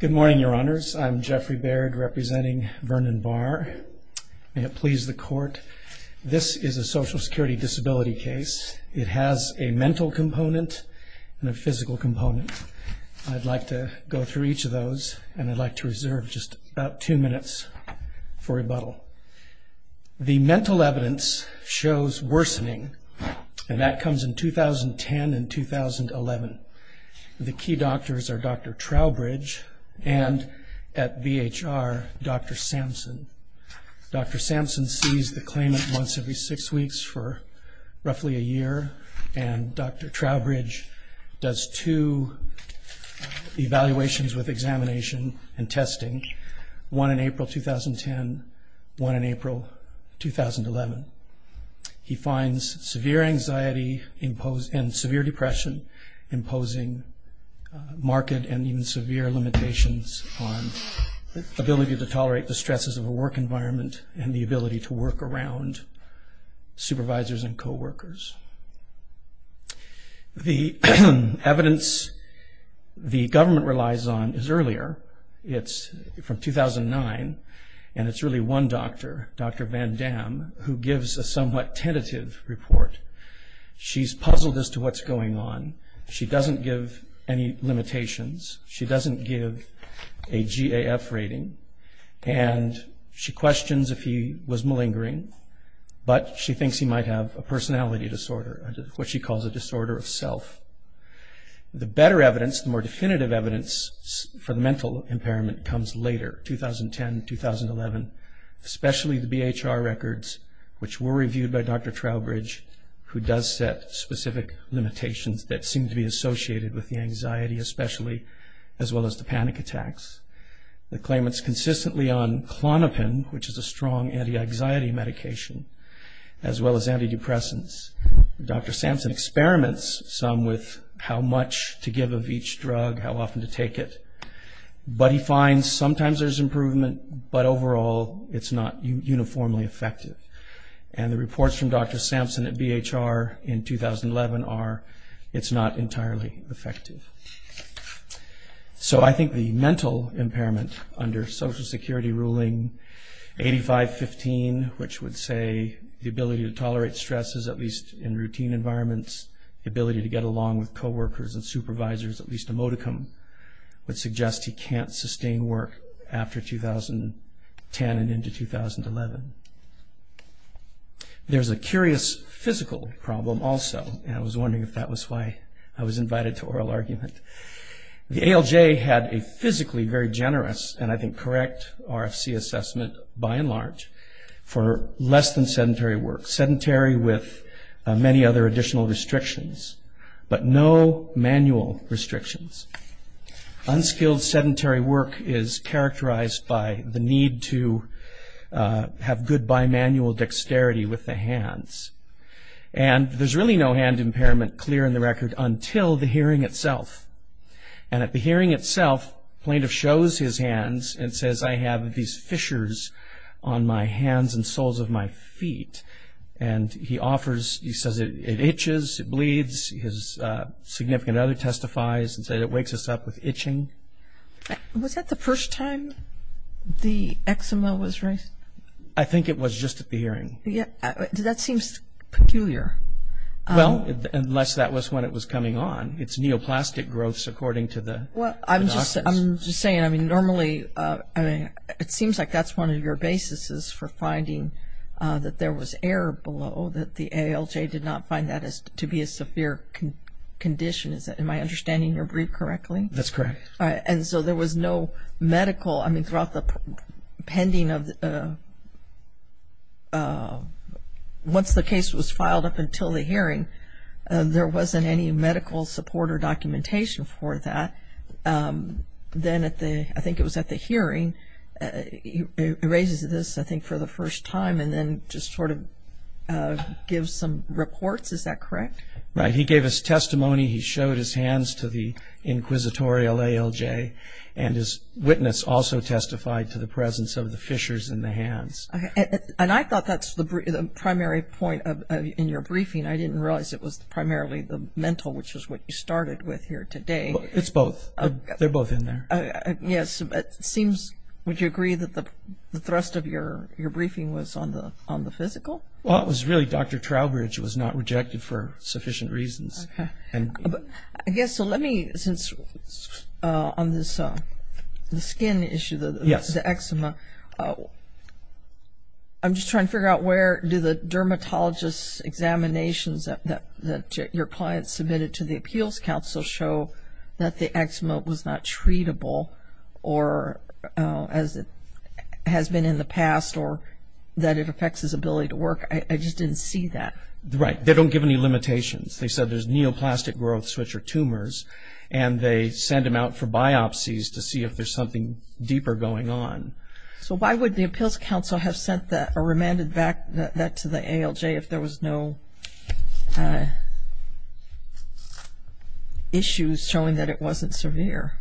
Good morning, Your Honors. I'm Jeffrey Baird, representing Vernon Barr. May it please the Court, this is a Social Security disability case. It has a mental component and a physical component. I'd like to go through each of those, and I'd like to reserve just about two minutes for rebuttal. The mental evidence shows worsening, and that comes in 2010 and 2011. The key doctors are Dr. Trowbridge and, at VHR, Dr. Sampson. Dr. Sampson sees the claimant once every six weeks for roughly a year, and Dr. Trowbridge does two evaluations with examination and testing, one in April 2010 and one in April 2011. He finds severe anxiety and severe depression, imposing marked and even severe limitations on the ability to tolerate the stresses of a work environment and the ability to work around supervisors and co-workers. The evidence the government relies on is earlier. It's from 2009, and who gives a somewhat tentative report. She's puzzled as to what's going on. She doesn't give any limitations. She doesn't give a GAF rating, and she questions if he was malingering, but she thinks he might have a personality disorder, what she calls a disorder of self. The better evidence, the more definitive evidence, for the mental impairment comes later, 2010, 2011, especially the VHR records, which were reviewed by Dr. Trowbridge, who does set specific limitations that seem to be associated with the anxiety, especially, as well as the panic attacks. The claimant's consistently on Klonopin, which is a strong anti-anxiety medication, as well as antidepressants. Dr. Sampson experiments some with how much to give of each drug, how many times there's improvement, but overall, it's not uniformly effective. The reports from Dr. Sampson at VHR in 2011 are, it's not entirely effective. I think the mental impairment under Social Security ruling 85-15, which would say the ability to tolerate stresses at least in routine environments, the ability to get along with co-workers and supervisors, at least emoticum, would suggest he can't sustain work after 2010 and into 2011. There's a curious physical problem also, and I was wondering if that was why I was invited to oral argument. The ALJ had a physically very generous, and I think correct, RFC assessment by and large, for less than sedentary work. Sedentary with many other additional restrictions, but no manual restrictions. Unskilled sedentary work is characterized by the need to have good bimanual dexterity with the hands. There's really no hand impairment clear in the record until the hearing itself. At the hearing itself, the plaintiff shows his hands and says, I have these fissures on my hands and soles of my feet. He says, it itches, it bleeds, his significant other testifies and says, it wakes us up with itching. Was that the first time the eczema was raised? I think it was just at the hearing. That seems peculiar. Well, unless that was when it was coming on. It's neoplastic growth, according to the doctors. I'm just saying, normally, it seems like that's one of your basis for finding that there was a nerve below, that the ALJ did not find that to be a severe condition. Am I understanding your brief correctly? That's correct. And so there was no medical, I mean, throughout the pending of, once the case was filed up until the hearing, there wasn't any medical support or documentation for that. Then at the, I think it was at the hearing, it raises this, I think, for the first time and then just sort of gives some reports. Is that correct? Right. He gave his testimony. He showed his hands to the inquisitorial ALJ and his witness also testified to the presence of the fissures in the hands. And I thought that's the primary point in your briefing. I didn't realize it was primarily the mental, which is what you started with here today. It's both. They're both in there. Yes. It seems, would you agree that the thrust of your briefing was on the physical? Well, it was really Dr. Trowbridge was not rejected for sufficient reasons. Okay. I guess, so let me, since on this skin issue, the eczema, I'm just trying to figure out where do the dermatologist examinations that your client submitted to the appeals council show that the eczema was not treatable or as it has been in the past or that it affects his ability to work? I just didn't see that. Right. They don't give any limitations. They said there's neoplastic growth, which are tumors and they send them out for biopsies to see if there's something deeper going on. So why would the appeals council have sent that or remanded that to the ALJ if there was no issues showing that it wasn't severe?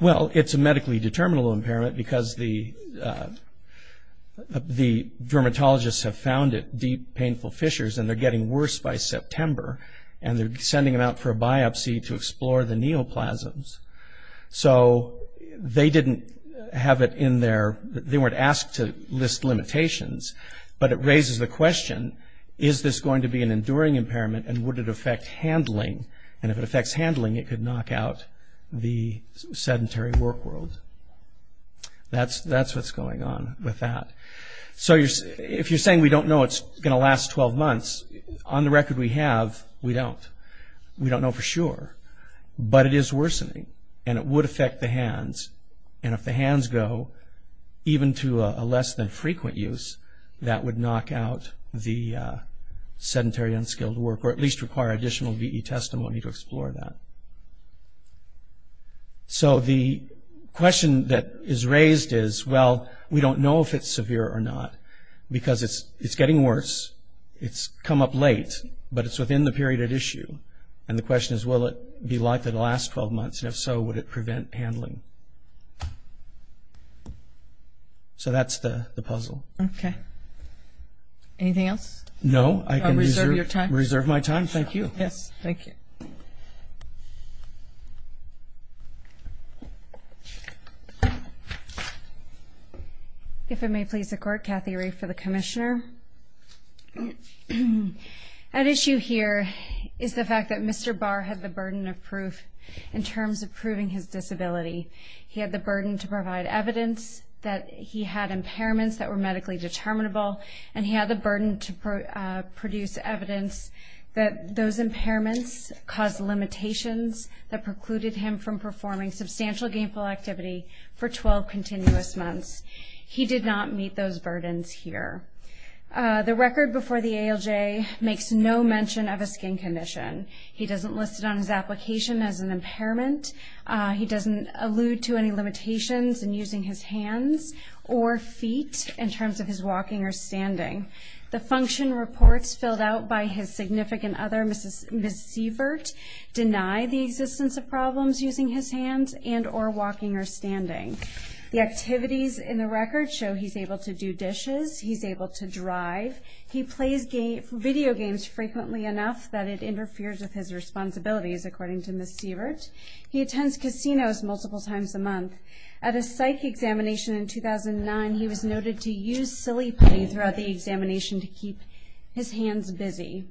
Well it's a medically determinable impairment because the dermatologists have found it, deep painful fissures, and they're getting worse by September and they're sending them out for a biopsy to explore the neoplasms. So they didn't have it in their, they weren't asked to list limitations, but it raises the question, is this going to be an enduring impairment and would it affect handling? And if it affects handling, it could knock out the sedentary work world. That's what's going on with that. So if you're saying we don't know it's going to last 12 months, on the record we have, we don't. We don't know for sure, but it is worsening and it would affect the hands and if the hands go, even to a less than frequent use, that would knock out the sedentary unskilled work or at least require additional VE testimony to explore that. So the question that is raised is, well, we don't know if it's severe or not because it's getting worse, it's come up late, but it's within the period at issue. And the question is, will it be likely to last 12 months and if so, would it prevent handling? So that's the puzzle. Okay. Anything else? No, I can reserve my time. Thank you. If it may please the Court, Kathy Rafe for the Commissioner. At issue here is the fact that Mr. Barr had the burden of proof in terms of proving his disability. He had the burden to provide evidence that he had impairments that were medically determinable and he had the burden to produce evidence that those impairments caused limitations that precluded him from performing substantial gainful activity for 12 continuous months. He did not meet those burdens here. The record before the ALJ makes no mention of a skin condition. He doesn't list it on his application as an impairment. He doesn't allude to any limitations in using his hands or feet in terms of his walking or standing. The function reports filled out by his significant other, Ms. Sievert, deny the existence of problems using his hands and or walking or to do dishes. He's able to drive. He plays video games frequently enough that it interferes with his responsibilities, according to Ms. Sievert. He attends casinos multiple times a month. At a psych examination in 2009, he was noted to use silly play throughout the examination to keep his hands busy.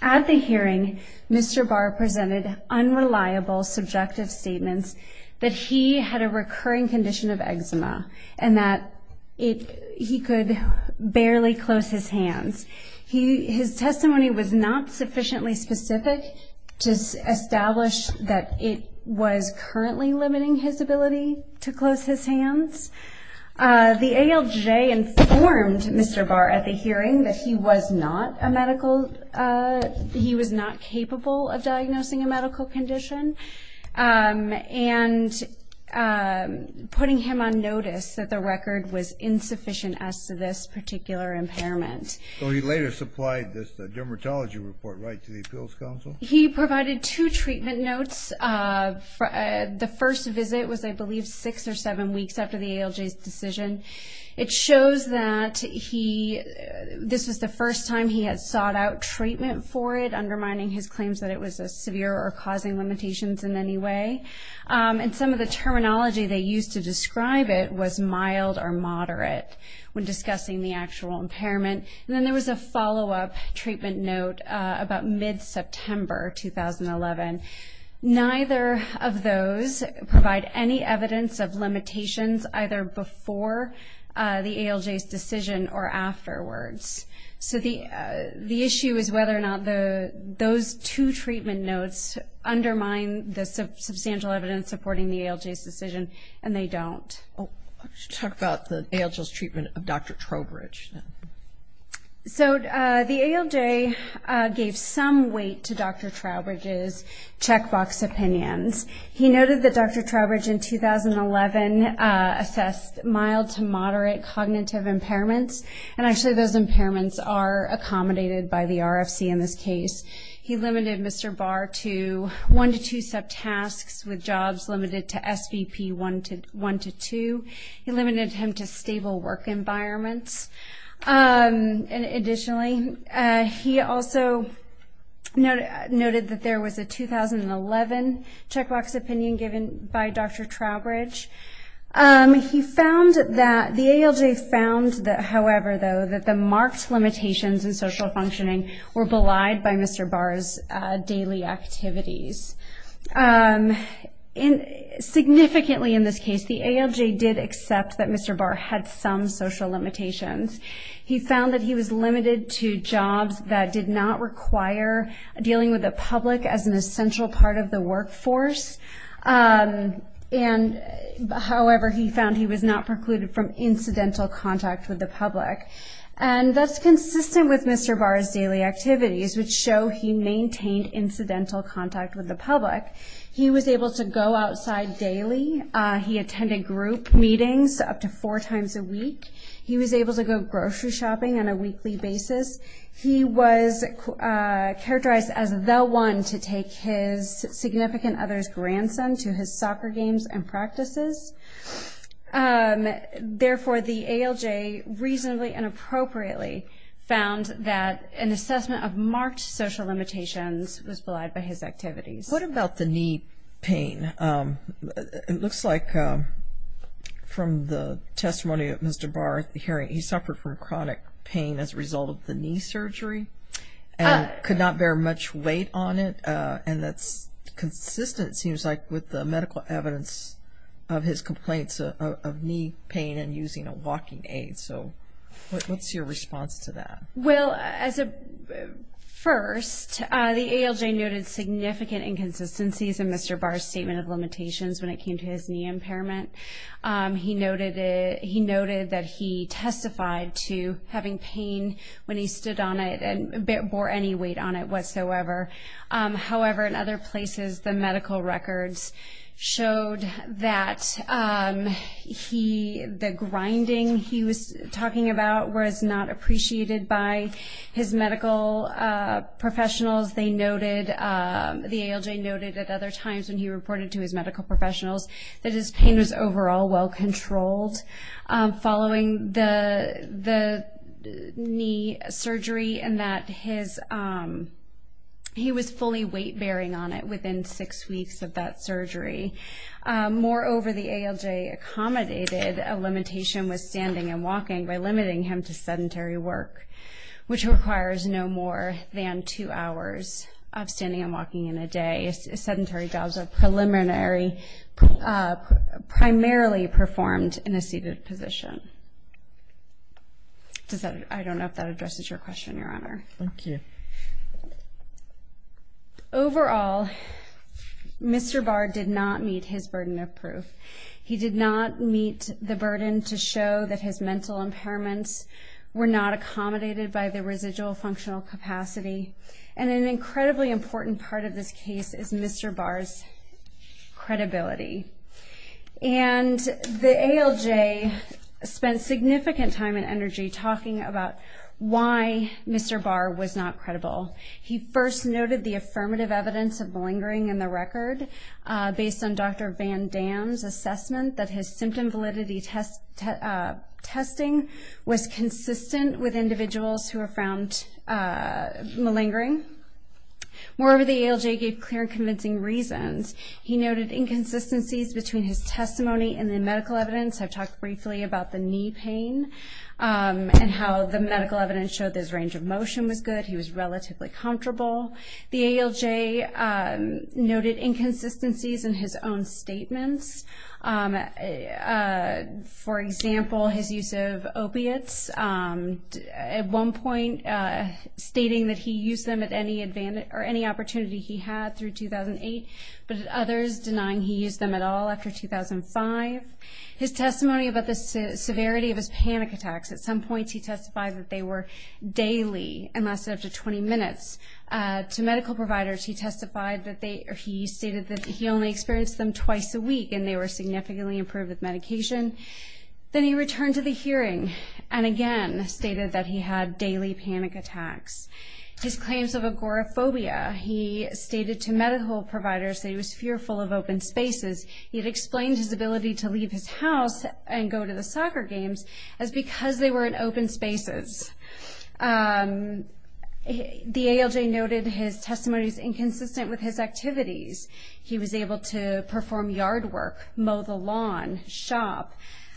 At the hearing, Mr. Barr presented unreliable subjective statements that he had a recurring condition of eczema and that he could barely close his hands. His testimony was not sufficiently specific to establish that it was currently limiting his ability to close his hands. The ALJ informed Mr. Barr at the hearing that he was not a medical, he was not capable of putting him on notice that the record was insufficient as to this particular impairment. So he later supplied this dermatology report right to the appeals council? He provided two treatment notes. The first visit was, I believe, six or seven weeks after the ALJ's decision. It shows that this was the first time he had sought out treatment for it, undermining his claims that it was severe or causing limitations in any way. And some of the terminology they used to describe it was mild or moderate when discussing the actual impairment. And then there was a follow-up treatment note about mid-September 2011. Neither of those provide any evidence of limitations either before the ALJ's decision or afterwards. So the issue is whether or not those two treatment notes undermine the substantial evidence supporting the ALJ's decision, and they don't. Let's talk about the ALJ's treatment of Dr. Trowbridge. So the ALJ gave some weight to Dr. Trowbridge's checkbox opinions. He noted that Dr. Trowbridge in 2011 assessed mild to moderate cognitive impairments, and actually those impairments are accommodated by the RFC in this case. He limited Mr. Barr to one to two subtasks with jobs limited to SVP one to two. He limited him to stable work environments. Additionally, he also noted that there was a 2011 checkbox opinion given by Dr. Trowbridge. He found that the ALJ found, however, though, that the marked limitations in social functioning were belied by Mr. Barr's daily activities. Significantly in this case, the ALJ did accept that Mr. Barr had some social limitations. He found that he was limited to jobs that did not require dealing with the public as an essential part of the workforce. However, he found he was not precluded from incidental contact with the public. And that's consistent with Mr. Barr's daily activities, which show he maintained incidental contact with the public. He was able to go outside daily. He attended group meetings up to four times a week. He was able to go grocery shopping on a weekly basis. He was characterized as the one to take his significant other's grandson to his soccer games and practices. Therefore, the ALJ reasonably and appropriately found that an assessment of marked social limitations was belied by his activities. What about the knee pain? It looks like from the testimony of Mr. Barr, he suffered from chronic pain as a result of the knee surgery and could not bear much weight on it. And that's consistent, it seems like, with the medical evidence of his complaints of knee pain and using a walking aid. So what's your response to that? Well, first, the ALJ noted significant inconsistencies in Mr. Barr's statement of limitations when it came to his knee impairment. He noted that he testified to having pain when he stood on it and bore any weight on it whatsoever. However, in other places, the medical records showed that the grinding he was talking about was not appreciated by the ALJ. His medical professionals, they noted, the ALJ noted at other times when he reported to his medical professionals that his pain was overall well controlled following the knee surgery and that he was fully weight-bearing on it within six weeks of that surgery. Moreover, the ALJ accommodated a limitation with standing and walking by limiting him to sedentary work, which requires no more than two hours of standing and walking in a day. Sedentary jobs are primarily performed in a seated position. I don't know if that addresses your question, Your Honor. Thank you. Overall, Mr. Barr did not meet his burden of proof. He did not meet the burden to show that his mental impairments were not accommodated by the residual functional capacity. An incredibly important part of this case is Mr. Barr's credibility. The ALJ spent significant time and energy talking about why Mr. Barr was not credible. He first noted the affirmative evidence of lingering in the record based on Dr. Van Dam's assessment that his symptom validity testing was consistent with individuals who were found malingering. Moreover, the ALJ gave clear and convincing reasons. He noted inconsistencies between his testimony and the medical evidence. I've talked briefly about the knee pain and how the medical evidence showed that his range of motion was good. He was relatively comfortable. The ALJ noted inconsistencies in his own statements. For example, his use of opiates. At one point stating that he used them at any opportunity he had through 2008, but others denying he used them at all after 2005. His testimony about the severity of his panic attacks. At some points he testified that they were daily and lasted up to 20 minutes. To medical providers he testified that he only experienced them twice a week and they were significantly improved with medication. Then he returned to the hearing and again stated that he had daily panic attacks. His claims of agoraphobia. He stated to medical providers that he was fearful of open spaces. He had explained his ability to leave his house and go to the soccer games as because they were in open spaces. The ALJ noted his testimony was inconsistent with his activities. He was able to perform yard work, mow the lawn, shop,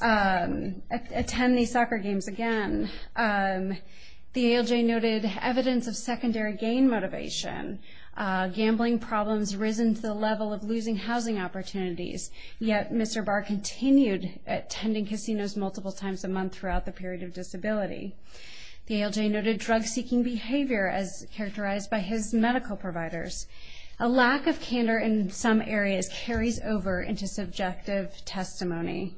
attend the soccer games again. The ALJ noted evidence of secondary gain motivation. Gambling problems risen to the level of losing housing opportunities, yet Mr. Barr continued attending casinos multiple times a month throughout the period of disability. The ALJ noted drug-seeking behavior as characterized by his medical providers. A lack of candor in some areas carries over into subjective testimony.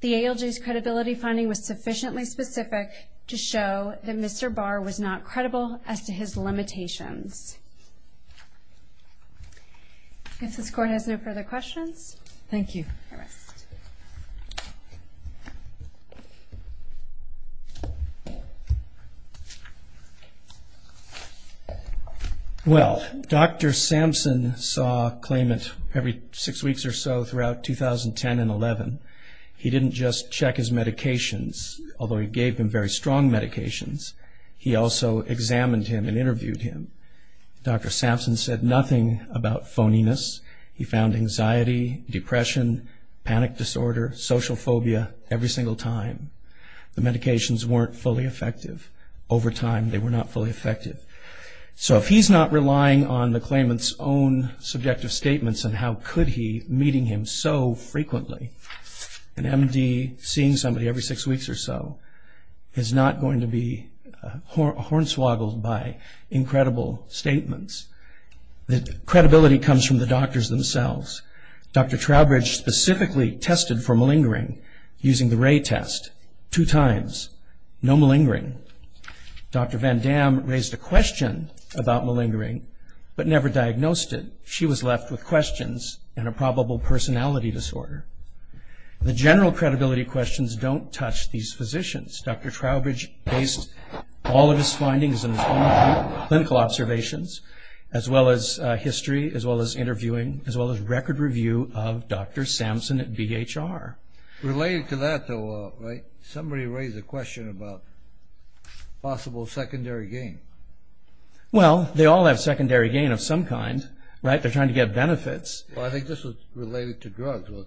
The ALJ's credibility finding was sufficiently specific to show that Mr. Barr was not credible as to his limitations. If this Court has no further questions. Thank you. Well, Dr. Sampson saw claimant every six weeks or so throughout 2010 and 2011. He didn't just check his medications, although he gave him very strong medications. He also examined him and interviewed him. Dr. Sampson said nothing about phoniness. He found anxiety, depression, panic disorder, social phobia every single time. The medications weren't fully effective. Over time, they were not fully effective. So if he's not relying on the claimant's own subjective statements, then how could he be meeting him so frequently? An MD seeing somebody every six weeks or so is not going to be hornswoggled by incredible statements. The credibility comes from the doctors themselves. Dr. Trowbridge specifically tested for malingering using the Ray test two times. No malingering. Dr. Van Dam raised a question about malingering, but never diagnosed it. She was left with questions and a probable personality disorder. The general credibility questions don't touch these physicians. Dr. Sampson's medical history, his interviewing, and his record review of Dr. Sampson at BHR were all questionable.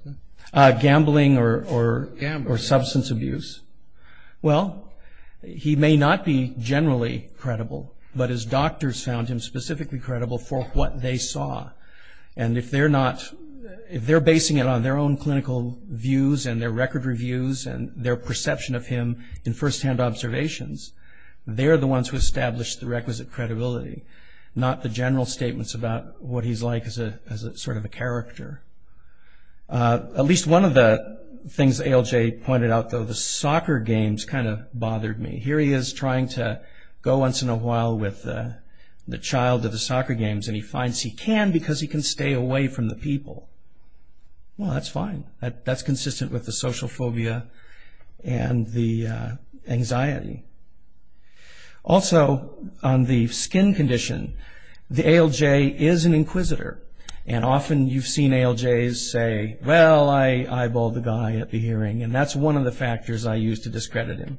He may not be generally credible, but his doctors found him to be specifically credible for what they saw. If they're basing it on their own clinical views and their record reviews and their perception of him in firsthand observations, they're the ones who establish the requisite credibility, not the general statements about what he's like as a sort of a character. At least one of the things ALJ pointed out, though, the soccer games kind of bothered me. Here he is trying to go once in a while with the child of the soccer games, and he finds he can because he can stay away from the people. Well, that's fine. That's consistent with the social phobia and the anxiety. Also, on the skin condition, the ALJ is an inquisitor, and often you've seen ALJs say, well, I eyeballed the guy at the hearing, and that's one of the factors I used to discredit him.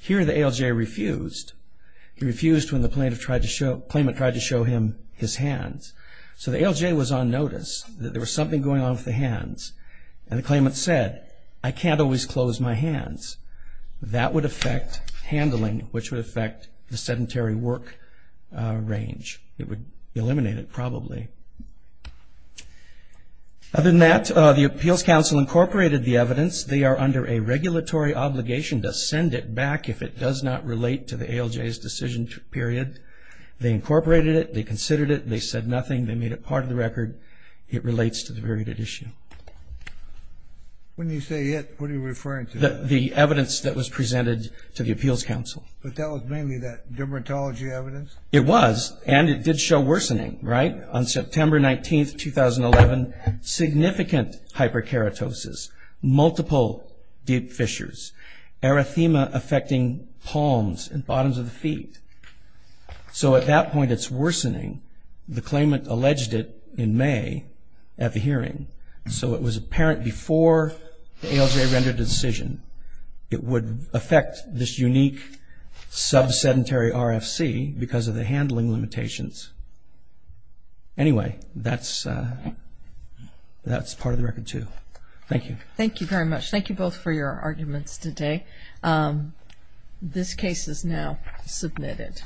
Here the ALJ refused. He refused when the plaintiff tried to show, the claimant tried to show him his hands. So the ALJ was on notice that there was something going on with the hands, and the claimant said, I can't always close my hands. That would affect handling, which would affect the sedentary work range. It would eliminate it, probably. Other than that, the Appeals Council incorporated the evidence. They are under a regulatory obligation to send it back if it does not relate to the ALJ's decision period. They incorporated it. They considered it. They said nothing. They made it part of the record. It relates to the very good issue. When you say it, what are you referring to? The evidence that was presented to the Appeals Council. But that was mainly that dermatology evidence? It was, and it did show worsening. On September 19, 2011, significant hyperkeratosis, multiple deep fissures, erythema affecting palms and bottoms of the feet. At that point, it's worsening. The claimant alleged it in May at the hearing. It was apparent before the ALJ rendered a decision. It would affect this unique sub-sedentary RFC because of the handling limitations. Anyway, that's part of the record, too. Thank you. Thank you very much. Thank you both for your arguments today. This case is now submitted.